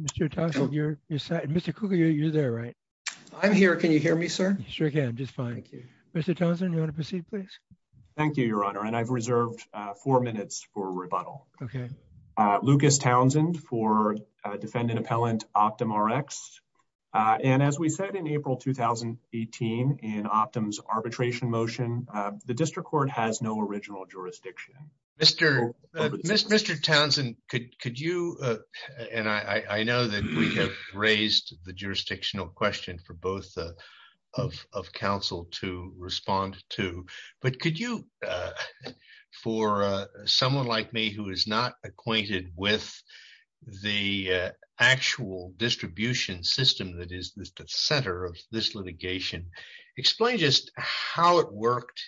Mr. Townsend, you're there, right? I'm here. Can you hear me, sir? Sure can, just fine. Thank you. Mr. Townsend, you want to proceed, please? Thank you, your honor. And I've reserved four minutes for rebuttal. Okay. Lucas Townsend for defendant appellant Optum RX. And as we said in April 2018, in Optum's arbitration motion, the district court has no original jurisdiction. Mr. Townsend, could you, and I know that we have raised the jurisdictional question for both of counsel to respond to, but could you, for someone like me who is not acquainted with the actual distribution system that is the center of this litigation, explain just how it worked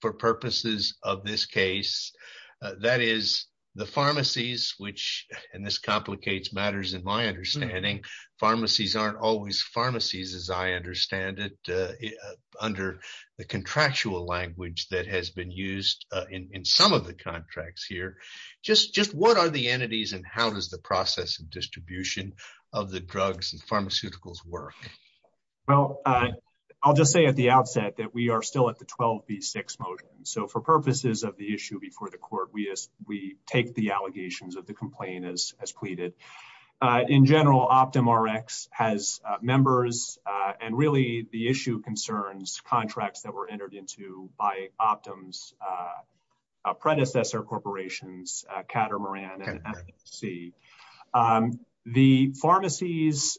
for purposes of this case, that is the pharmacies, which, and this complicates matters in my understanding, pharmacies aren't always pharmacies, as I understand it, under the contractual language that has been used in some of the contracts here. Just what are the entities and how does the process of distribution of the drugs and pharmaceuticals work? Well, I'll just say at the outset that we are still at the 12B6 motion. So for purposes of the issue before the court, we take the allegations of the complaint as pleaded. In general, Optum RX has members and really the issue concerns contracts that were entered into by Optum's predecessor corporations, Cater Moran and NFC. The pharmacies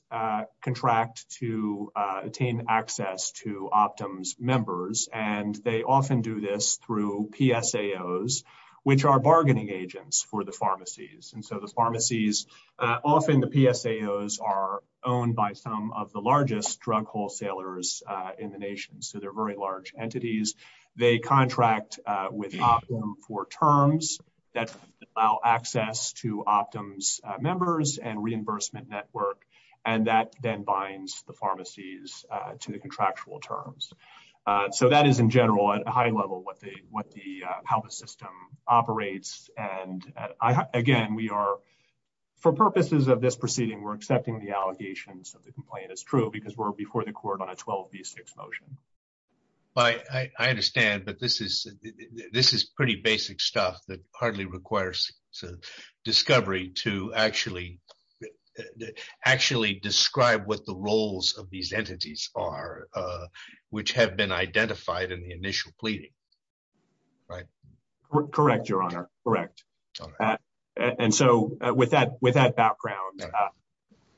contract to attain access to Optum's members and they often do this through PSAOs, which are bargaining agents for the pharmacies. And so the pharmacies, often the PSAOs are owned by some of the largest drug wholesalers in the nation. So they're very large entities. They contract with Optum for terms that allow access to Optum's members and reimbursement network. And that then binds the pharmacies to the contractual terms. So that is in general at a high level what the, how the system operates. And again, we are, for purposes of this proceeding, we're accepting the allegations of the complaint as true because we're before the court on a 12B6 motion. But I understand, but this is, this is pretty basic stuff that hardly requires discovery to actually, actually describe what the roles of these entities are, which have been identified in the initial pleading, right? Correct, Your Honor. Correct. And so with that, with that background,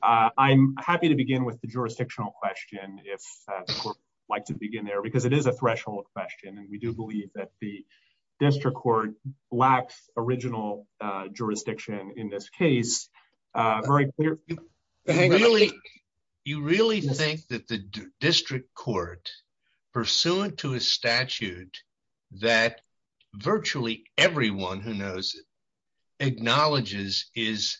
I'm happy to begin with the jurisdictional question, if the court would like to begin there because it is a threshold question. And we do believe that the district court lacks original jurisdiction in this case. Very clear. You really, you really think that the district court, pursuant to a statute that virtually everyone who knows it acknowledges is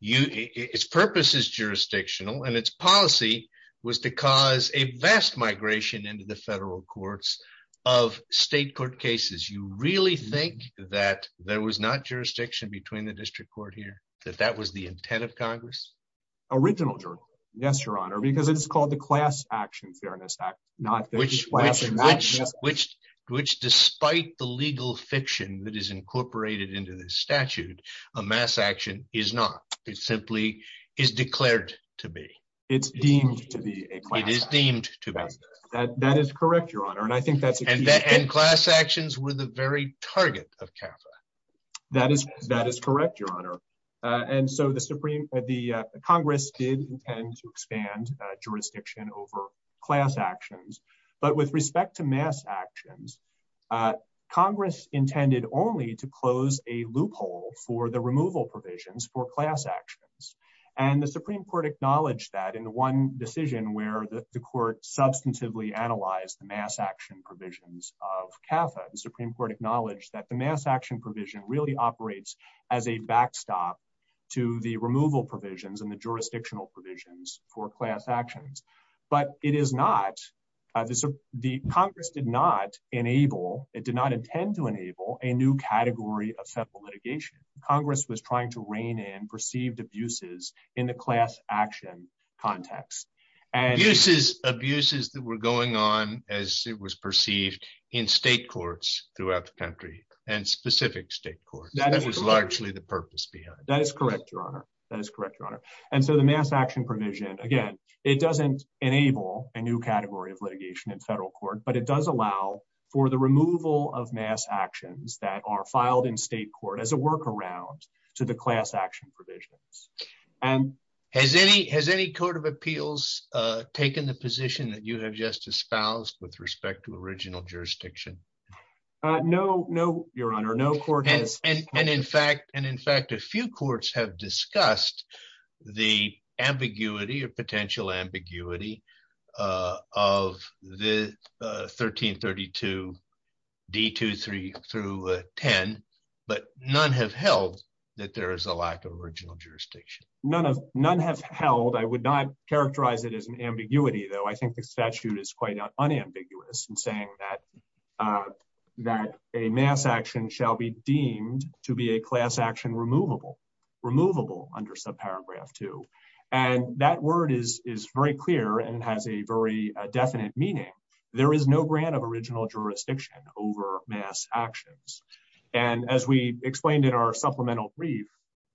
you, its purpose is jurisdictional and its policy was to cause a vast migration into the federal courts of state court cases. You really think that there was not jurisdiction between the district court here, that that was the intent of Congress? Original jurisdiction. Yes, Your Honor. Because it's called the Class Action Fairness Act, not the class action. Which despite the legal fiction that is incorporated into this statute, a mass action is not. It simply is declared to be. It's deemed to be a class action. It is deemed to be. That is correct, Your Honor. And I think that's a key point. And class actions were the very target of CAFA. That is correct, Your Honor. And so the Congress did intend to expand jurisdiction over class actions. But with respect to mass actions, Congress intended only to close a loophole for the removal provisions for class actions. And the Supreme Court acknowledged that in one decision where the court substantively analyzed the mass action provisions of CAFA. The Supreme Court acknowledged that the mass action provision really operates as a backstop to the removal provisions and the jurisdictional provisions for class actions. But it is not. The Congress did not enable, it did not intend to enable, a new category of federal litigation. Congress was trying to rein in perceived abuses in the class action context. Abuses that were going on as it was perceived in state courts throughout the country and specific state courts. That was largely the purpose behind it. That is correct, Your Honor. That is correct, Your Honor. And so the mass action provision, again, it doesn't enable a new category of litigation in federal court, but it does allow for the removal of mass actions that are filed in state court as a workaround to the class action provisions. Has any court of appeals taken the position that you have just espoused with respect to mass action? No, Your Honor. No court has. And in fact, a few courts have discussed the ambiguity or potential ambiguity of the 1332 D23 through 10, but none have held that there is a lack of original jurisdiction. None have held. I would not characterize it as an ambiguity, though. I think the statute is quite unambiguous in saying that a mass action shall be deemed to be a class action removable, under subparagraph two. And that word is very clear and has a very definite meaning. There is no grant of original jurisdiction over mass actions. And as we explained in our supplemental brief,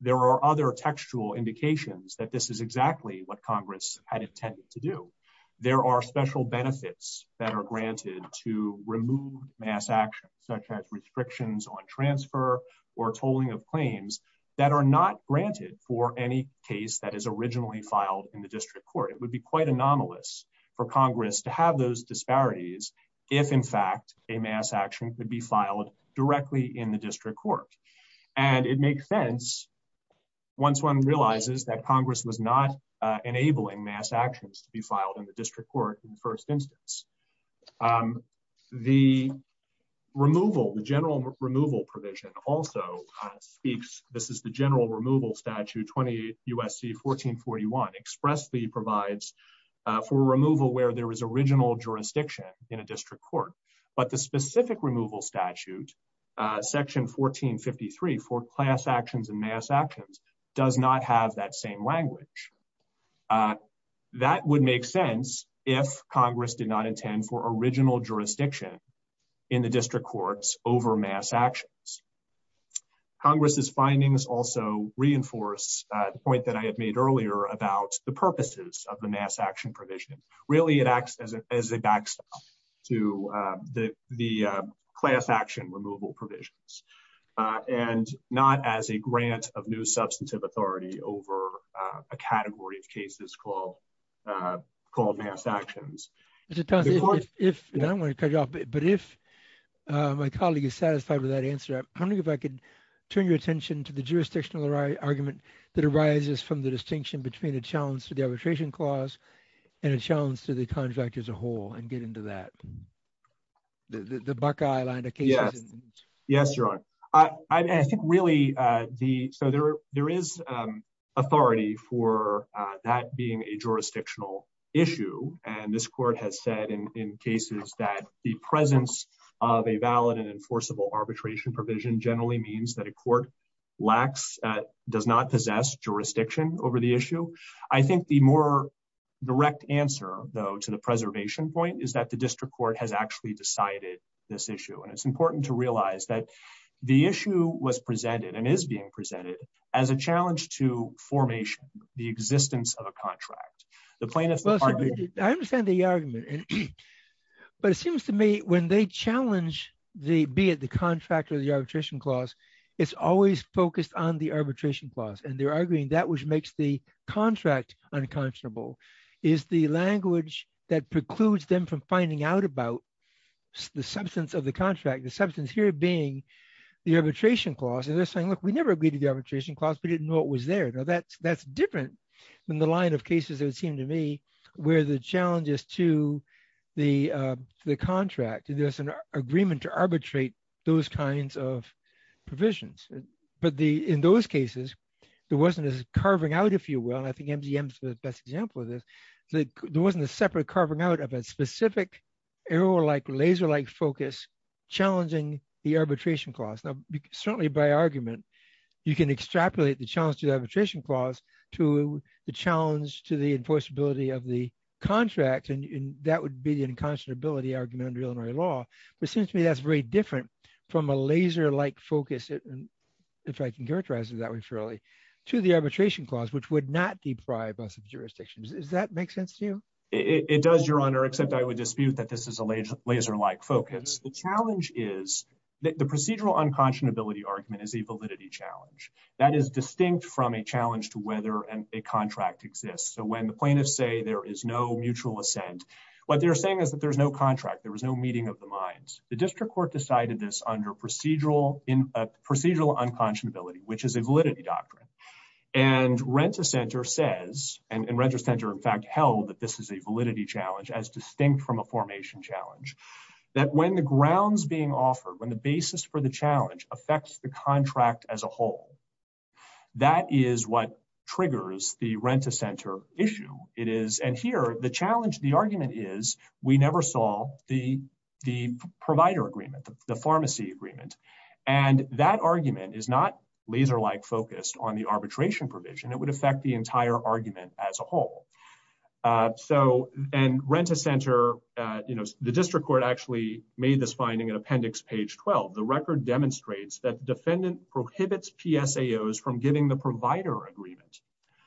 there are other textual indications that this is exactly what Congress had intended to do. There are special benefits that are granted to remove mass action, such as restrictions on transfer or tolling of claims that are not granted for any case that is originally filed in the district court. It would be quite anomalous for Congress to have those disparities if, in fact, a mass action could be filed directly in the district court. And it makes sense, once one realizes that Congress was not enabling mass actions to be filed in the district court in the first instance. The removal, the general removal provision also speaks, this is the general removal statute, 20 U.S.C. 1441, expressly provides for removal where there was original jurisdiction in a district court. But the specific removal statute, section 1453, for class actions and mass actions, does not have that same language. That would make sense if Congress did not intend for original jurisdiction in the district courts over mass actions. Congress's findings also reinforce the point that I had made earlier about the purposes of the mass action provision. Really, it acts as a to the class action removal provisions. And not as a grant of new substantive authority over a category of cases called mass actions. I don't want to cut you off, but if my colleague is satisfied with that answer, I'm wondering if I could turn your attention to the jurisdictional argument that arises from the distinction between challenge to the arbitration clause and a challenge to the contract as a whole and get into that. The Buckeye line of cases. Yes, Your Honor. I think really, so there is authority for that being a jurisdictional issue. And this court has said in cases that the presence of a valid and enforceable arbitration provision generally means that a court does not possess jurisdiction over the issue. I think the more direct answer, though, to the preservation point is that the district court has actually decided this issue. And it's important to realize that the issue was presented and is being presented as a challenge to formation, the existence of a contract. I understand the argument. But it seems to me when they challenge the contract or the arbitration clause, it's always focused on the arbitration clause. And they're arguing that which makes the contract unconscionable is the language that precludes them from finding out about the substance of the contract, the substance here being the arbitration clause. And they're saying, look, we never agreed to the arbitration clause. We didn't know it was there. Now, that's different than the line of cases, it would seem to me, where the challenge is to the contract. There's an agreement to arbitrate those kinds of provisions. But in those cases, there wasn't a carving out, if you will, and I think MDM is the best example of this, that there wasn't a separate carving out of a specific error-like, laser-like focus challenging the arbitration clause. Now, certainly by argument, you can extrapolate the challenge to the arbitration clause to the challenge to the enforceability of the contract. And that would be the unconscionability argument under Illinois law. But it seems to me that's very different from a laser-like focus, if I can characterize it that way fairly, to the arbitration clause, which would not deprive us of jurisdictions. Does that make sense to you? It does, Your Honor, except I would dispute that this is a laser-like focus. The challenge is, the procedural unconscionability argument is a validity challenge. That is distinct from a challenge to whether a contract exists. So when the plaintiffs say there is no mutual assent, what they're saying is that there's no contract, there was no meeting of the minds. The district court decided this under procedural unconscionability, which is a validity doctrine. And Rent-A-Center says, and Rent-A-Center in fact held that this is a validity challenge as distinct from a formation challenge, that when the grounds being offered, when the basis for the challenge affects the contract as a whole, that is what triggers the Rent-A-Center issue. And here, the challenge, the argument is, we never saw the provider agreement, the pharmacy agreement. And that argument is not laser-like focused on the arbitration provision. It would affect the entire argument as a whole. And Rent-A-Center, the district court actually made this finding in appendix page 12. The record demonstrates that defendant prohibits PSAOs from giving the provider agreement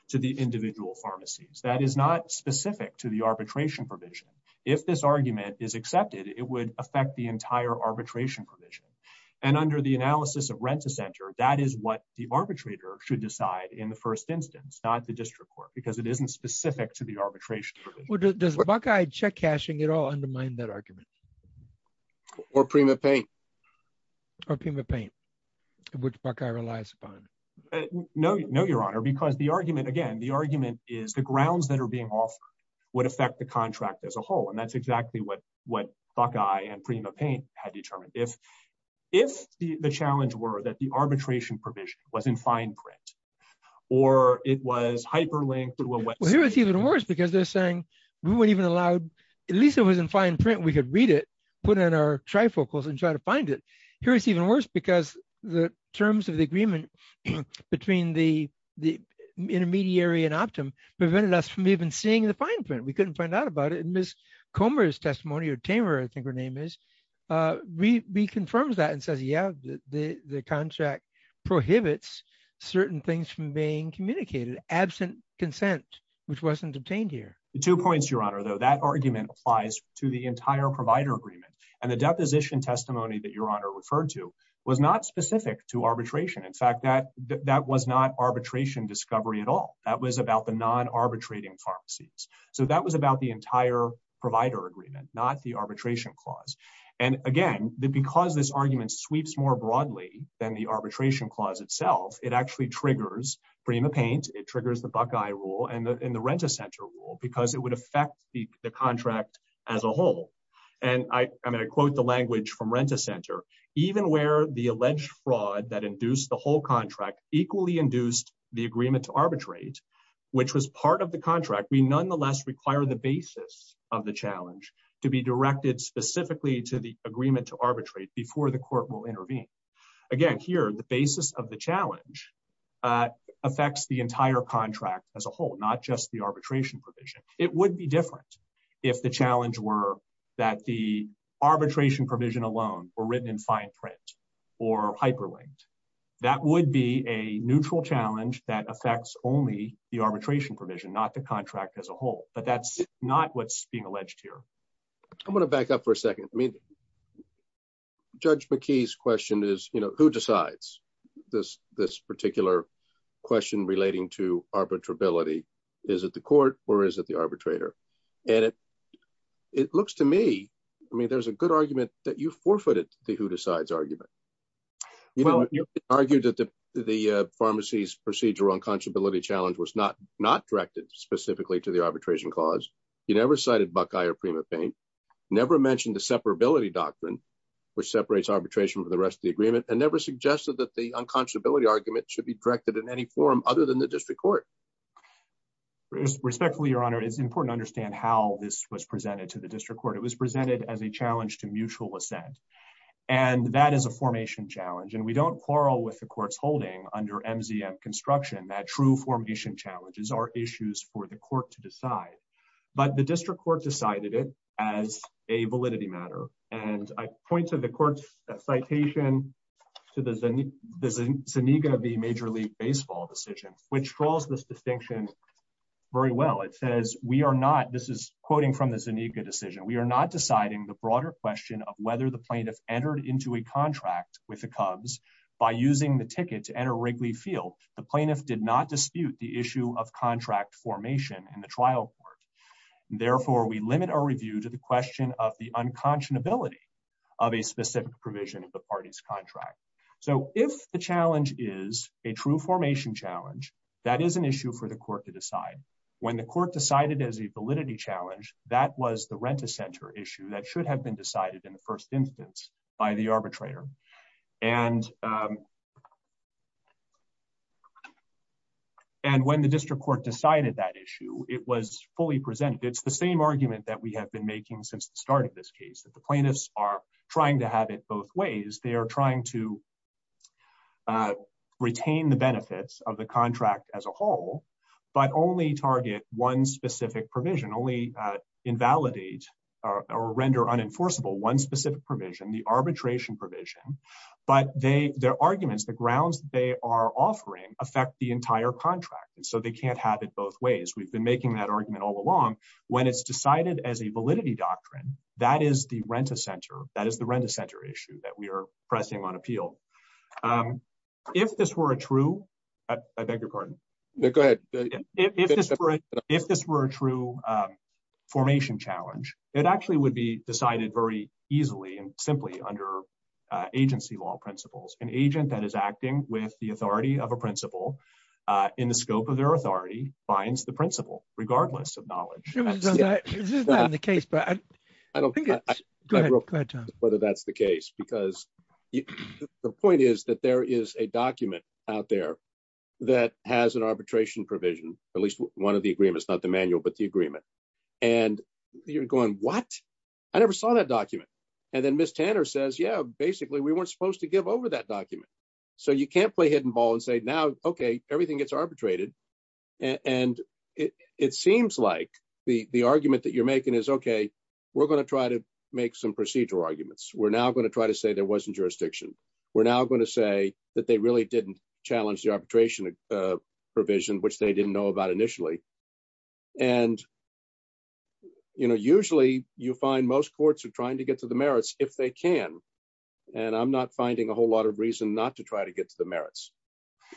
to the individual pharmacies. That is not specific to the arbitration provision. If this argument is accepted, it would affect the entire arbitration provision. And under the analysis of Rent-A-Center, that is what the arbitrator should decide in the first instance, not the district court, because it isn't specific to the arbitration. Well, does Buckeye check cashing at all undermine that argument? Or Prima Paint? Or Prima Paint, which Buckeye relies upon. No, Your Honor, because the argument, again, the argument is, the grounds that are being offered would affect the contract as a whole. And that's exactly what Buckeye and Prima Paint had determined. If the challenge were that the arbitration provision was in fine print, or it was hyperlinked to a website- Well, here it's even worse, because they're saying we weren't even allowed, at least it was in fine print, we could read it, put it in our trifocals and try to find it. Here it's even worse, because the terms of the agreement between the intermediary and Optum prevented us from even seeing the fine print. We couldn't find out about it. And Ms. Comer's testimony, or Tamer, I think her name is, reconfirms that and says, yeah, the contract prohibits certain things from being communicated, absent consent, which wasn't obtained here. Two points, Your Honor, though. That argument applies to the entire provider agreement. And the deposition testimony that Your Honor referred to was not specific to arbitration. In fact, that was not arbitration discovery at all. That was about the non-arbitrating pharmacies. So that was about the entire provider agreement, not the arbitration clause. And again, because this argument sweeps more broadly than the arbitration clause itself, it actually triggers Prima Paint, it triggers the Buckeye rule and the Rent-A-Center rule, because it would affect the contract as a whole. And I quote the language from Rent-A-Center, even where the alleged fraud that induced the whole contract equally induced the agreement to arbitrate, which was part of the contract, we nonetheless require the basis of the challenge to be directed specifically to the agreement to arbitrate before the court will intervene. Again, here, the basis of the challenge affects the entire contract as a whole, not just the arbitration provision. It would be different if the challenge were that the arbitration provision alone were written in fine print or hyperlinked. That would be a neutral challenge that affects only the arbitration provision, not the contract as a whole. But that's not what's being alleged here. I'm going to back up for a second. I mean, Judge McKee's question is, you know, who decides this particular question relating to is it the court or is it the arbitrator? And it looks to me, I mean, there's a good argument that you forfeited the who decides argument. You argued that the pharmacy's procedural unconscionability challenge was not directed specifically to the arbitration clause. You never cited Buckeye or Prima Paint, never mentioned the separability doctrine, which separates arbitration from the rest of the agreement, and never suggested that the unconscionability argument should be directed in any form other than the district court. Respectfully, Your Honor, it's important to understand how this was presented to the district court. It was presented as a challenge to mutual assent. And that is a formation challenge. And we don't quarrel with the court's holding under MZM construction that true formation challenges are issues for the court to decide. But the district court decided it as a validity matter. And I point to the court's citation to the Zaniga v. Major League Baseball decision, which draws this distinction. Very well, it says we are not this is quoting from the Zaniga decision, we are not deciding the broader question of whether the plaintiff entered into a contract with the Cubs. By using the ticket to enter Wrigley Field, the plaintiff did not dispute the issue of contract formation in the trial court. Therefore, we limit our review to the question of the unconscionability of a specific provision of the party's contract. So if the is an issue for the court to decide, when the court decided as a validity challenge, that was the rent a center issue that should have been decided in the first instance by the arbitrator. And and when the district court decided that issue, it was fully presented. It's the same argument that we have been making since the start of this case that the plaintiffs are trying to have it both ways, they are trying to retain the benefits of the contract as a whole, but only target one specific provision only invalidate or render unenforceable one specific provision, the arbitration provision, but they their arguments, the grounds they are offering affect the entire contract. And so they can't have it both ways. We've been making that argument all along, when it's decided as a that is the rent a center issue that we are pressing on appeal. If this were a true, I beg your pardon. If this were a true formation challenge, it actually would be decided very easily and simply under agency law principles, an agent that is acting with the authority of a principle in the scope of their authority finds the principle regardless of knowledge. This is not the case, but I don't think whether that's the case, because the point is that there is a document out there that has an arbitration provision, at least one of the agreements, not the manual, but the agreement. And you're going what? I never saw that document. And then Miss Tanner says, Yeah, basically, we weren't supposed to give over that document. So you can't play hidden ball and say now, okay, everything gets arbitrated. And it seems like the argument that you're making is okay, we're going to try to make some procedural arguments, we're now going to try to say there wasn't jurisdiction, we're now going to say that they really didn't challenge the arbitration provision, which they didn't know about initially. And, you know, usually, you find most courts are trying to get to the merits if they can. And I'm not finding a whole lot of reason not to try to get to the merits,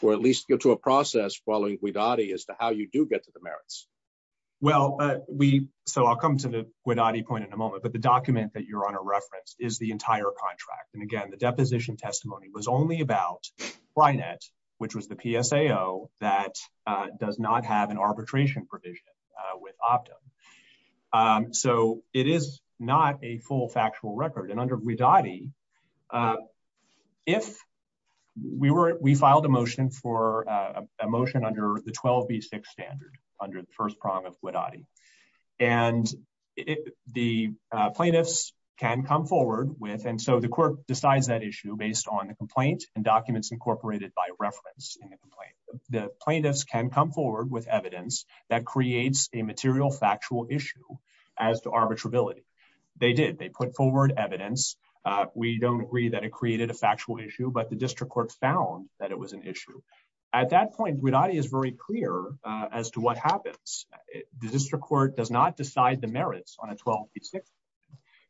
or at least go to a process following we Dottie as to how you do get to the merits. Well, we so I'll come to the point in a moment. But the document that you're on a reference is the entire contract. And again, the deposition testimony was only about Brianette, which was the PSA, oh, that does not have an arbitration provision with Optum. So it is not a full factual record. And under we Dottie. If we were we filed a motion for a motion under the 12 v six standard under the first prong of what Adi and the plaintiffs can come forward with and so the court decides that issue based on the complaint and documents incorporated by reference in the complaint, the plaintiffs can come forward with evidence that creates a material factual issue as to arbitrability. They did they put forward evidence. We don't agree that it created a factual issue, but the district court found that it was an issue. At that point, we Dottie is very clear as to what happens. The district court does not decide the merits on a 12 v six.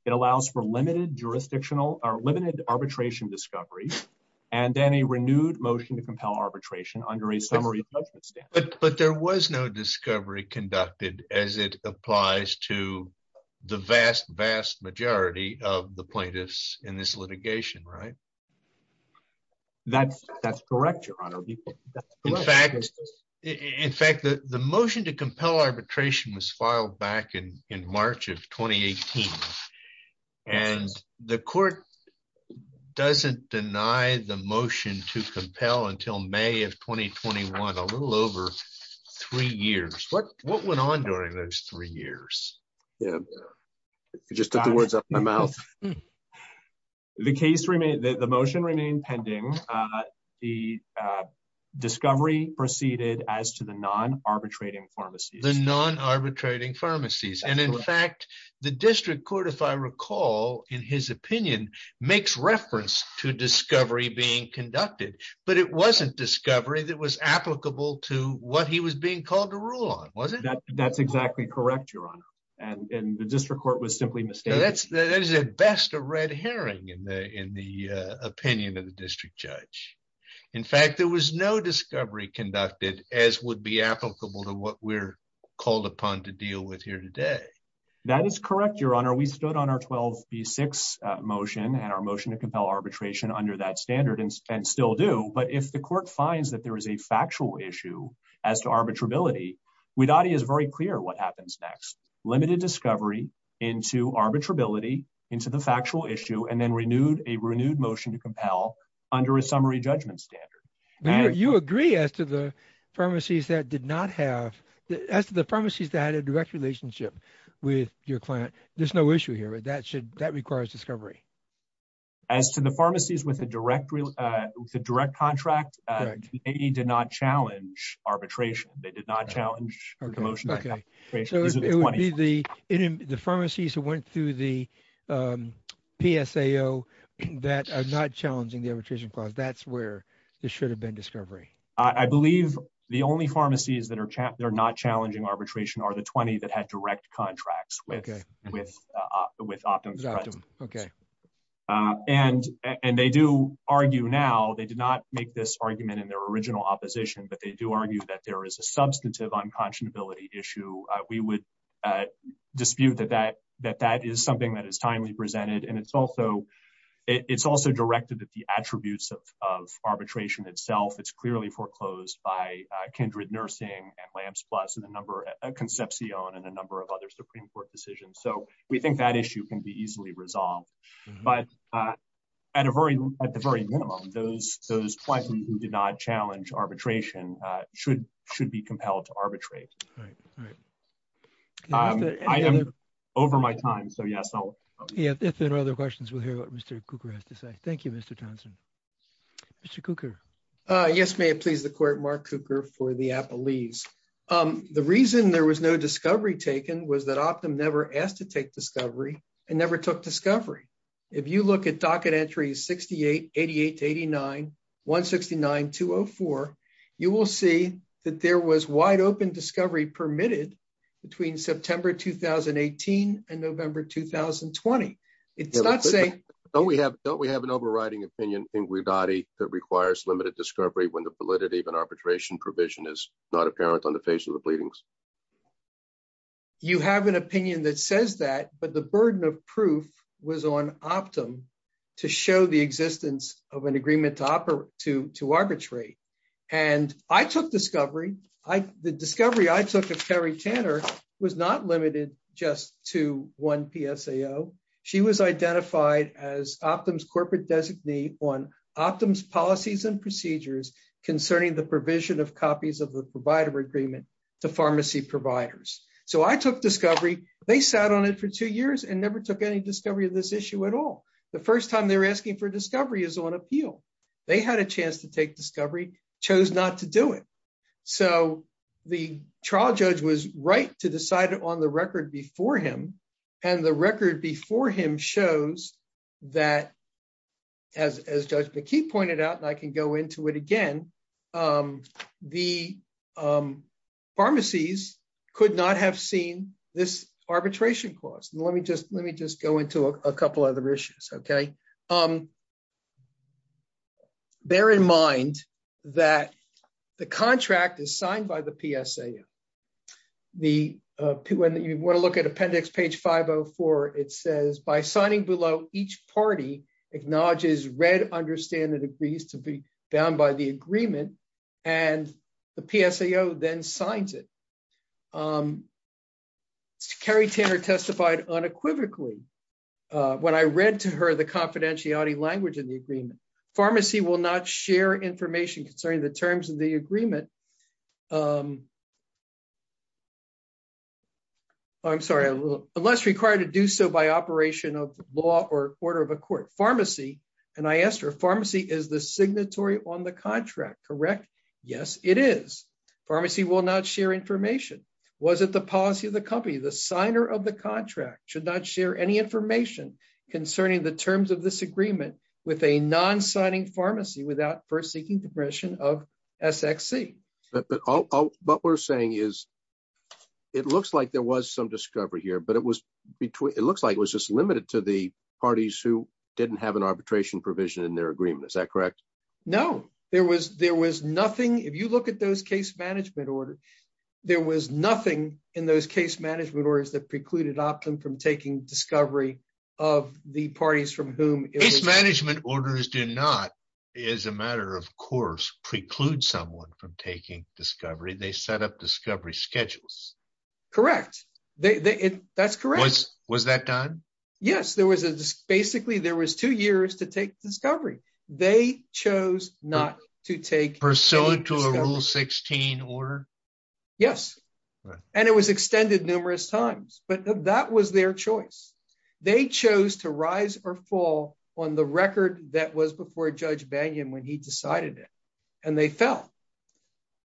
It allows for limited jurisdictional or limited arbitration discovery, and then a renewed motion to compel arbitration under a summary. But there was no discovery conducted as it applies to the vast, vast majority of the plaintiffs in this litigation, right? That's, that's correct, Your Honor. In fact, the motion to compel arbitration was filed back in March of 2018. And the court doesn't deny the motion to compel until May of 2021, a little over three years. What, what went on during those three years? Yeah, just the words up my mouth. The case remain that the motion remained pending. The discovery proceeded as to the non arbitrating pharmacies, the non arbitrating pharmacies. And in fact, the district court, if I recall, in his opinion, makes reference to discovery being conducted. But it wasn't discovery that was applicable to what he was being called to rule on, was it? That's exactly correct, Your Honor. And the district court was simply mistaken. That's the best of red herring in the in the opinion of the district judge. In fact, there was no discovery conducted as would be applicable to what we're called upon to deal with here today. That is correct, Your Honor, we stood on our 12 v six motion and our motion to compel arbitration under that standard and still do. But if the court finds that there is a factual issue as to arbitrability, we thought he is very clear what happens next, limited discovery into arbitrability into the factual issue and then renewed a renewed motion to compel under a summary judgment standard. You agree as to the pharmacies that did not have as to the pharmacies that had a direct relationship with your client. There's no issue here. That should that requires discovery. As to the pharmacies with a direct with a direct contract, they did not challenge arbitration. They did not challenge. OK, so it would be the in the pharmacies who went through the PSAO that are not challenging the arbitration clause. That's where there should have been discovery. I believe the only pharmacies that are not challenging arbitration are the 20 that had direct contracts with with with Optum. OK, and and they do argue now they did not make this argument in their original opposition, but they do argue that there is a substantive unconscionability issue. We would dispute that that that that is something that is timely presented. And it's also it's also directed that the attributes of arbitration itself, it's clearly foreclosed by Kindred Nursing and Lambs Plus and a number of Concepcion and a number of other Supreme Court decisions. So we think that issue can be easily resolved. But at a very at the very minimum, those those questions who did not challenge arbitration should should be compelled to arbitrate. I am over my time. So, yes, if there are other questions, we'll hear what Mr. Cooper has to say. Thank you, Mr. Johnson. Mr. Cooper. Yes, may it please the court. Mark Cooper for the Apple leaves. The reason there was no discovery taken was that Optum never asked to take discovery and never took discovery. If you look at docket entries, 68, 88, 89, 169, 204, you will see that there was wide open discovery permitted between September 2018 and November 2020. It's not saying we have don't we have an overriding opinion that requires limited discovery when the validity of an arbitration provision is not apparent on the face of the pleadings. You have an opinion that says that, but the burden of proof was on Optum to show the existence of an agreement to operate to to arbitrate. And I took discovery. I the discovery I took of Terry Tanner was not limited just to one PSAO. She was identified as Optum's corporate designee on Optum's policies and procedures concerning the provision of copies of the provider agreement to pharmacy providers. So I took discovery. They sat on it for two years and never took any discovery of this issue at all. The first time they were asking for discovery is on So the trial judge was right to decide on the record before him and the record before him shows that as Judge McKee pointed out, and I can go into it again, the pharmacies could not have seen this arbitration clause. And let me just let me just go into a couple other issues. Okay. Um, bear in mind that the contract is signed by the PSA. The when you want to look at appendix page 504, it says by signing below each party acknowledges read, understand and agrees to be bound by the agreement and the PSAO then signs it. Kerry Tanner testified unequivocally. When I read to her the confidentiality language in the agreement, pharmacy will not share information concerning the terms of the agreement. I'm sorry, unless required to do so by operation of law or order of a court pharmacy. And I asked her pharmacy is the signatory on the contract. Correct? Yes, it is. Pharmacy will not share information. Was it the policy of the company, the signer of the contract should not share any information concerning the terms of this agreement with a non signing pharmacy without first seeking permission of SXC. But what we're saying is, it looks like there was some discovery here. But it was between it looks like it was just limited to the parties who didn't have an arbitration provision in their agreement. Is that correct? No, there was there was nothing if you look at those case management order, there was nothing in those case management orders that precluded opting from taking discovery of the parties from whom case management orders do not, is a matter of course, preclude someone from taking discovery, they set up discovery schedules. Correct? That's correct. Was that done? Yes, there was a basically there was two years to take discovery, they chose not to take or sell it to a rule 16 order. Yes. And it was extended numerous times. But that was their choice. They chose to rise or fall on the record that was before Judge Banyan when he decided it, and they fell.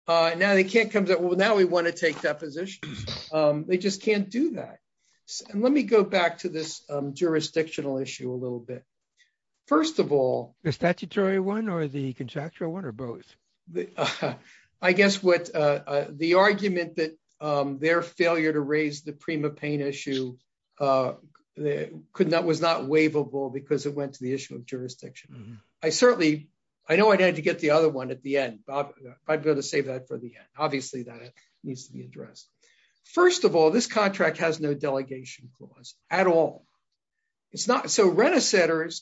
Now they can't come to well, now we want to take that position. They just can't do that. And let me go back to this jurisdictional issue a statutory one or the contractual one or both? I guess what the argument that their failure to raise the prima pain issue could not was not waivable because it went to the issue of jurisdiction. I certainly I know I'd had to get the other one at the end. I've got to save that for the end. Obviously, that needs to be addressed. First of all, this contract has no delegation clause at all. It's not so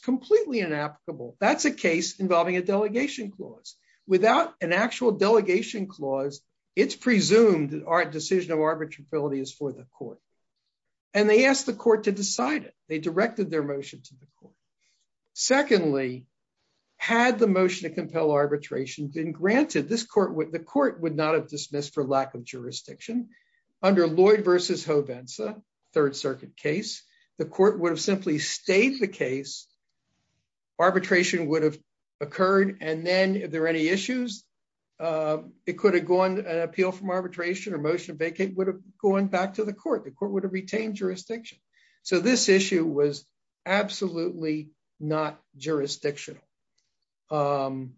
completely inapplicable. That's a case involving a delegation clause without an actual delegation clause. It's presumed that our decision of arbitrability is for the court. And they asked the court to decide it. They directed their motion to the court. Secondly, had the motion to compel arbitration been granted this court with the court would not have dismissed for lack of jurisdiction. Under Lloyd versus Hobenza, Third Circuit case, the court would have simply stayed the case. arbitration would have occurred. And then if there are any issues, it could have gone an appeal from arbitration or motion vacate would have gone back to the court, the court would have retained jurisdiction. So this issue was absolutely not jurisdictional. And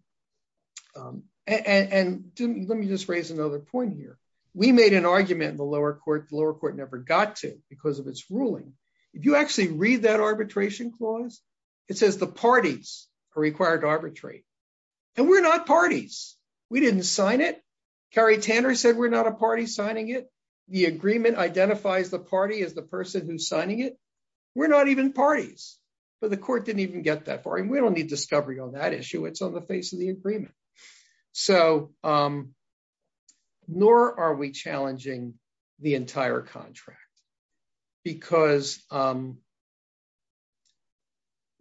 let me just raise another point here. We made an argument in the lower court, the lower court never got to because of its ruling. If you actually read that arbitration clause, it says the parties are required to arbitrate. And we're not parties. We didn't sign it. Carrie Tanner said we're not a party signing it. The agreement identifies the party as the person who's signing it. We're not even parties. But the court didn't even get that far. And we don't need discovery on that issue. It's on the face of the agreement. So nor are we challenging the entire contract. Because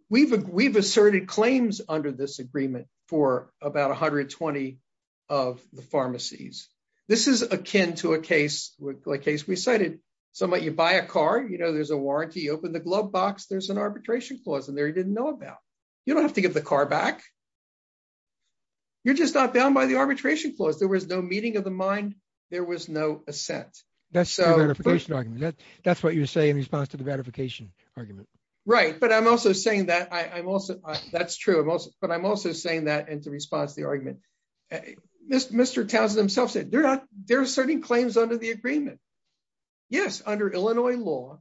we've, we've asserted claims under this agreement for about 120 of the pharmacies. This is akin to a case with a case we cited, somebody you buy a car, you know, there's a warranty, open the glove box, there's an you're just not bound by the arbitration clause, there was no meeting of the mind, there was no assent. So that's what you say in response to the ratification argument. Right. But I'm also saying that I'm also, that's true. But I'm also saying that in response to the argument, Mr. Townsend himself said they're not there are certain claims under the agreement. Yes, under Illinois law,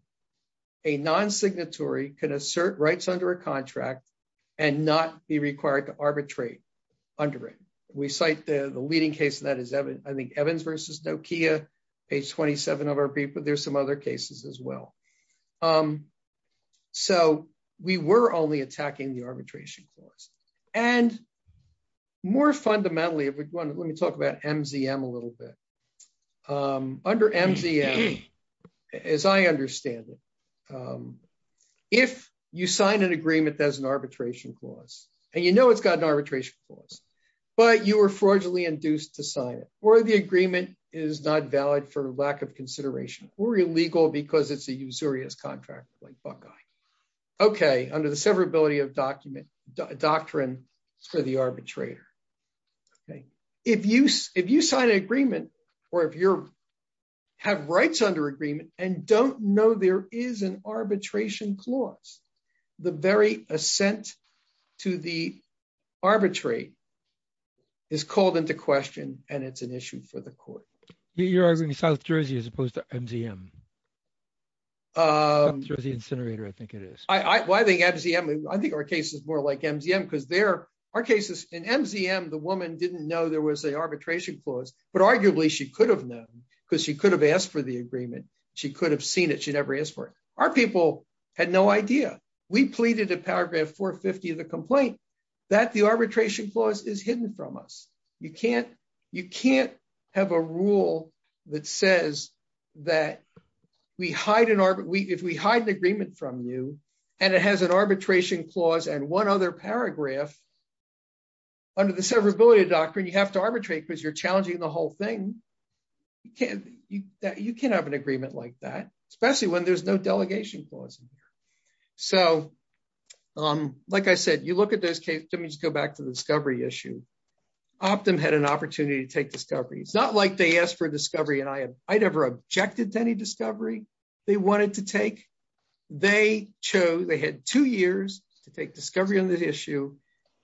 a non signatory can assert rights under a contract, and not be required to arbitrate under it. We cite the leading case that is, I think, Evans versus Nokia, page 27 of our paper, there's some other cases as well. So we were only attacking the arbitration clause. And more fundamentally, if we want, let me talk about MGM a little bit. Under MGM, as I understand it, if you sign an agreement as an arbitration clause, and you know, it's got an arbitration clause, but you were fraudulently induced to sign it, or the agreement is not valid for lack of consideration, or illegal because it's a usurious contract like Buckeye. Okay, under the severability of document doctrine for the arbitrator. Okay, if you if you sign an agreement and don't know there is an arbitration clause, the very ascent to the arbitrate is called into question. And it's an issue for the court. You're arguing South Jersey as opposed to MGM. Jersey incinerator, I think it is. I think MGM, I think our case is more like MGM, because there are cases in MGM, the woman didn't know there was a arbitration clause. But arguably, she could have known, because she could have asked for the agreement. She could have seen it, she never asked for it. Our people had no idea. We pleaded to paragraph 450 of the complaint, that the arbitration clause is hidden from us. You can't, you can't have a rule that says that we hide in our we if we hide the agreement from you, and it has an arbitration clause and one other paragraph. Under the severability of doctrine, you have to arbitrate because you're that you can have an agreement like that, especially when there's no delegation clause. So, um, like I said, you look at this case, let me just go back to the discovery issue. Optum had an opportunity to take discovery. It's not like they asked for discovery. And I have, I never objected to any discovery. They wanted to take, they chose, they had two years to take discovery on this issue.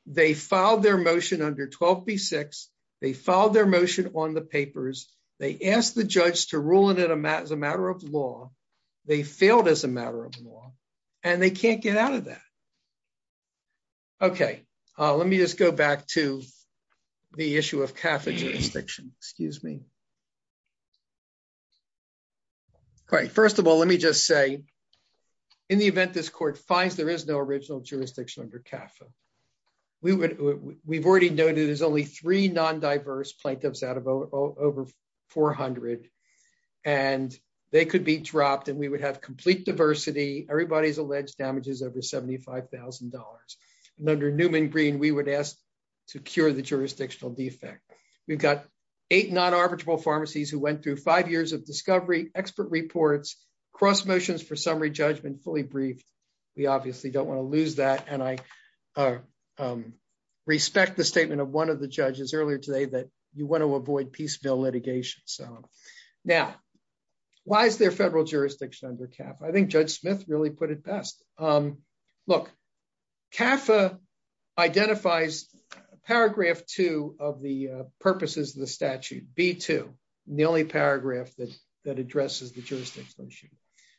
They filed their motion under 12 B six, they filed their motion on the to rule in it as a matter of law, they failed as a matter of law, and they can't get out of that. Okay, let me just go back to the issue of Catholic jurisdiction, excuse me. Great. First of all, let me just say, in the event this court finds there is no original jurisdiction under CAFA, we would, we've already noted, there's only three non diverse plaintiffs out of over 400. And they could be dropped, and we would have complete diversity. Everybody's alleged damages over $75,000. And under Newman green, we would ask to cure the jurisdictional defect. We've got eight non arbitrable pharmacies who went through five years of discovery expert reports, cross motions for summary judgment fully briefed. We obviously don't want to lose that. And I respect the statement of one of the judges earlier today that you want to avoid piecemeal litigation. So now, why is there federal jurisdiction under CAFA? I think Judge Smith really put it best. Look, CAFA identifies paragraph two of the purposes of the statute B two, the only paragraph that that addresses the jurisdiction issue.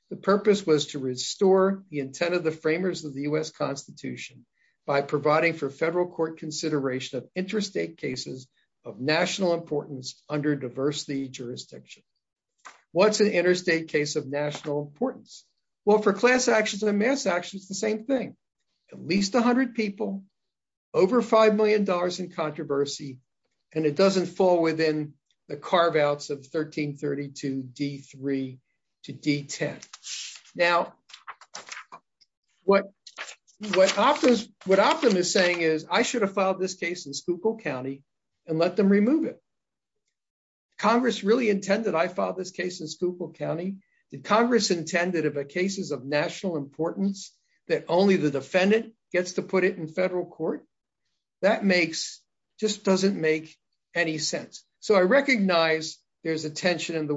The purpose was to restore the intent of the framers of the US Constitution by providing for federal court consideration of interstate cases of national importance under diversity jurisdiction. What's an interstate case of national importance? Well, for class actions and mass actions, the same thing, at least 100 people over $5 million in controversy, and it doesn't fall within the carve outs of 1332 D three to D 10. Now, what what offers what optimum is saying is I should have filed this case in Spookle County, and let them remove it. Congress really intended I filed this case in Spookle County, the Congress intended of a cases of national importance that only the defendant gets to put it in federal court. That makes just doesn't make any sense. So I recognize there's a tension in the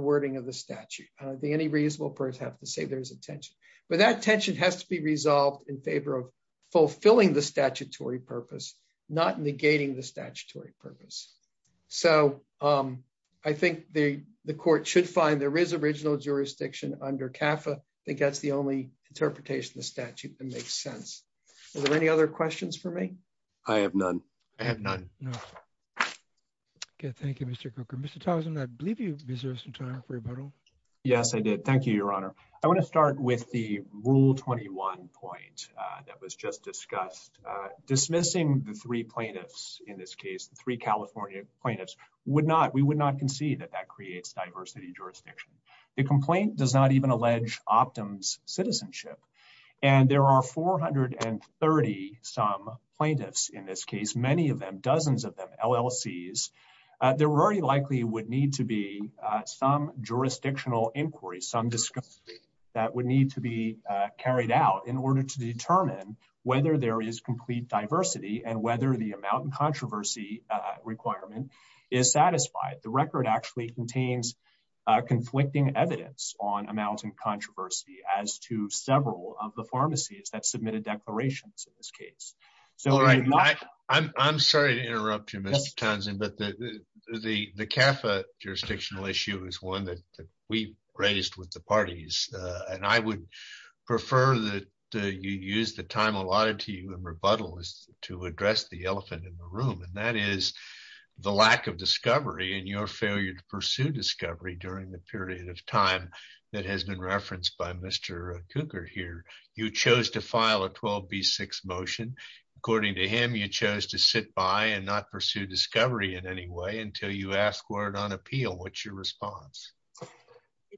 any reasonable person have to say there's a tension, but that tension has to be resolved in favor of fulfilling the statutory purpose, not negating the statutory purpose. So I think the court should find there is original jurisdiction under CAFA. I think that's the only interpretation of the statute that makes sense. Are there any other questions for me? I have none. I have none. Thank you, Mr. Cooker. Mr. Thompson, I believe you deserve some time for rebuttal. Yes, I did. Thank you, Your Honor. I want to start with the rule 21 point that was just discussed, dismissing the three plaintiffs. In this case, three California plaintiffs would not we would not concede that that creates diversity jurisdiction. The complaint does not even allege Optum's citizenship. And there are 430 some plaintiffs in this case, many of them dozens of LLCs. There very likely would need to be some jurisdictional inquiry, some discuss that would need to be carried out in order to determine whether there is complete diversity and whether the amount and controversy requirement is satisfied. The record actually contains conflicting evidence on amounts and controversy as to several of the pharmacies that submitted declarations in this case. So I'm sorry to interrupt you, Mr. Townsend, but the the the CAFA jurisdictional issue is one that we raised with the parties. And I would prefer that you use the time allotted to you and rebuttal is to address the elephant in the room. And that is the lack of discovery and your failure to pursue discovery during the period of time that has been referenced by Mr. Cooker here, you chose to file a 12 v six motion. According to him, you chose to sit by and not pursue discovery in any way until you ask word on appeal. What's your response?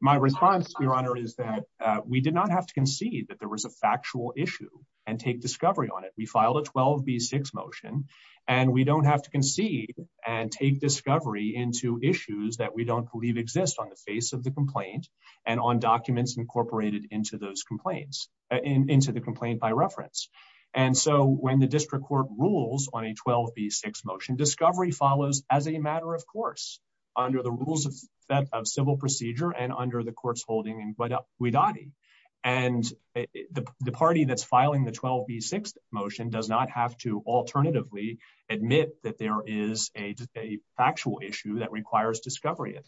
My response, Your Honor, is that we did not have to concede that there was a factual issue and take discovery on it, we filed a 12 v six motion. And we don't have to concede and take discovery into issues that we don't believe exist on the face of the complaint, and on documents incorporated into those complaints into the complaint by reference. And so when the district court rules on a 12 v six motion discovery follows as a matter of course, under the rules of civil procedure and under the courts holding in Guadalquivir. And the party that's filing the 12 v six motion does not have to alternatively admit that there is a factual issue that requires discovery.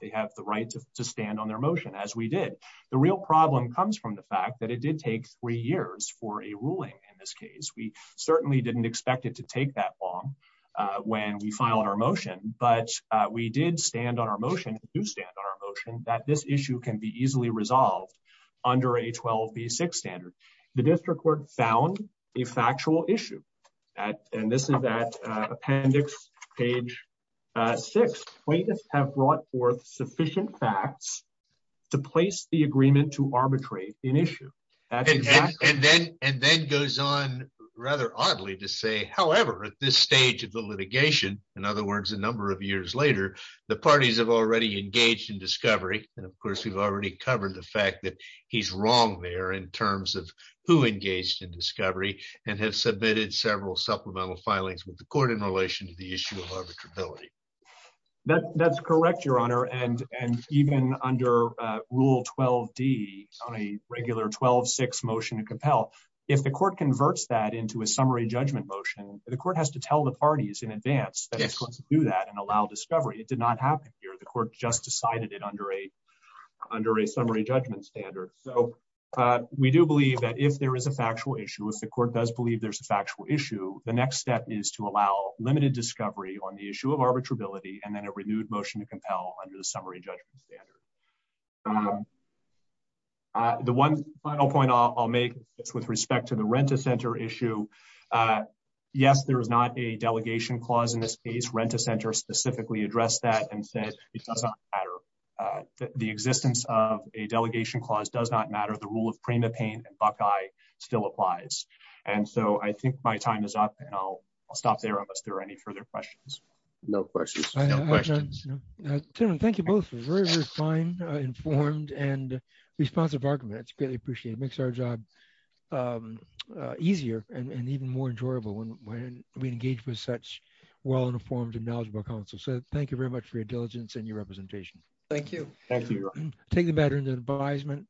They have the right to stand on their motion as we did. The real problem comes from the fact that it did take three years for a ruling. In this case, we certainly didn't expect it to take that long when we filed our motion. But we did stand on our motion to stand on our motion that this issue can be easily resolved under a 12 v six standard. The district court found a factual issue. And this is that appendix, page six plaintiffs have brought forth sufficient facts to place the agreement to arbitrate an issue. And then and then goes on, rather oddly to say, however, at this stage of the litigation, in other words, a number of years later, the parties have already engaged in discovery. And of course, we've already covered the fact that he's wrong there in terms of who engaged in discovery and have submitted several supplemental filings with the court in relation to the issue of arbitrability. That's correct, Your Honor. And and even under Rule 12d on a regular 12 six motion to compel, if the court converts that into a summary judgment motion, the court has to tell the parties in advance to do that and allow discovery it did not happen here, the court just decided it under a summary judgment standard. So we do believe that if there is a factual issue, if the court does believe there's a factual issue, the next step is to allow limited discovery on the issue of arbitrability and then a renewed motion to compel under the summary judgment standard. The one final point I'll make with respect to the rent a center issue. Yes, there is not a delegation clause in this case, rent a center specifically address that and said, it doesn't matter. The existence of a delegation clause does not matter the rule of prima pain and Buckeye still applies. And so I think my time is up. And I'll stop there unless there are any further questions. No questions. Thank you both very, very fine, informed and responsive arguments greatly appreciate makes our job easier and even more enjoyable when we engage with such well informed and knowledgeable council. So thank you very much for your diligence and your representation. Thank you. Thank you. Take the veterans advisement.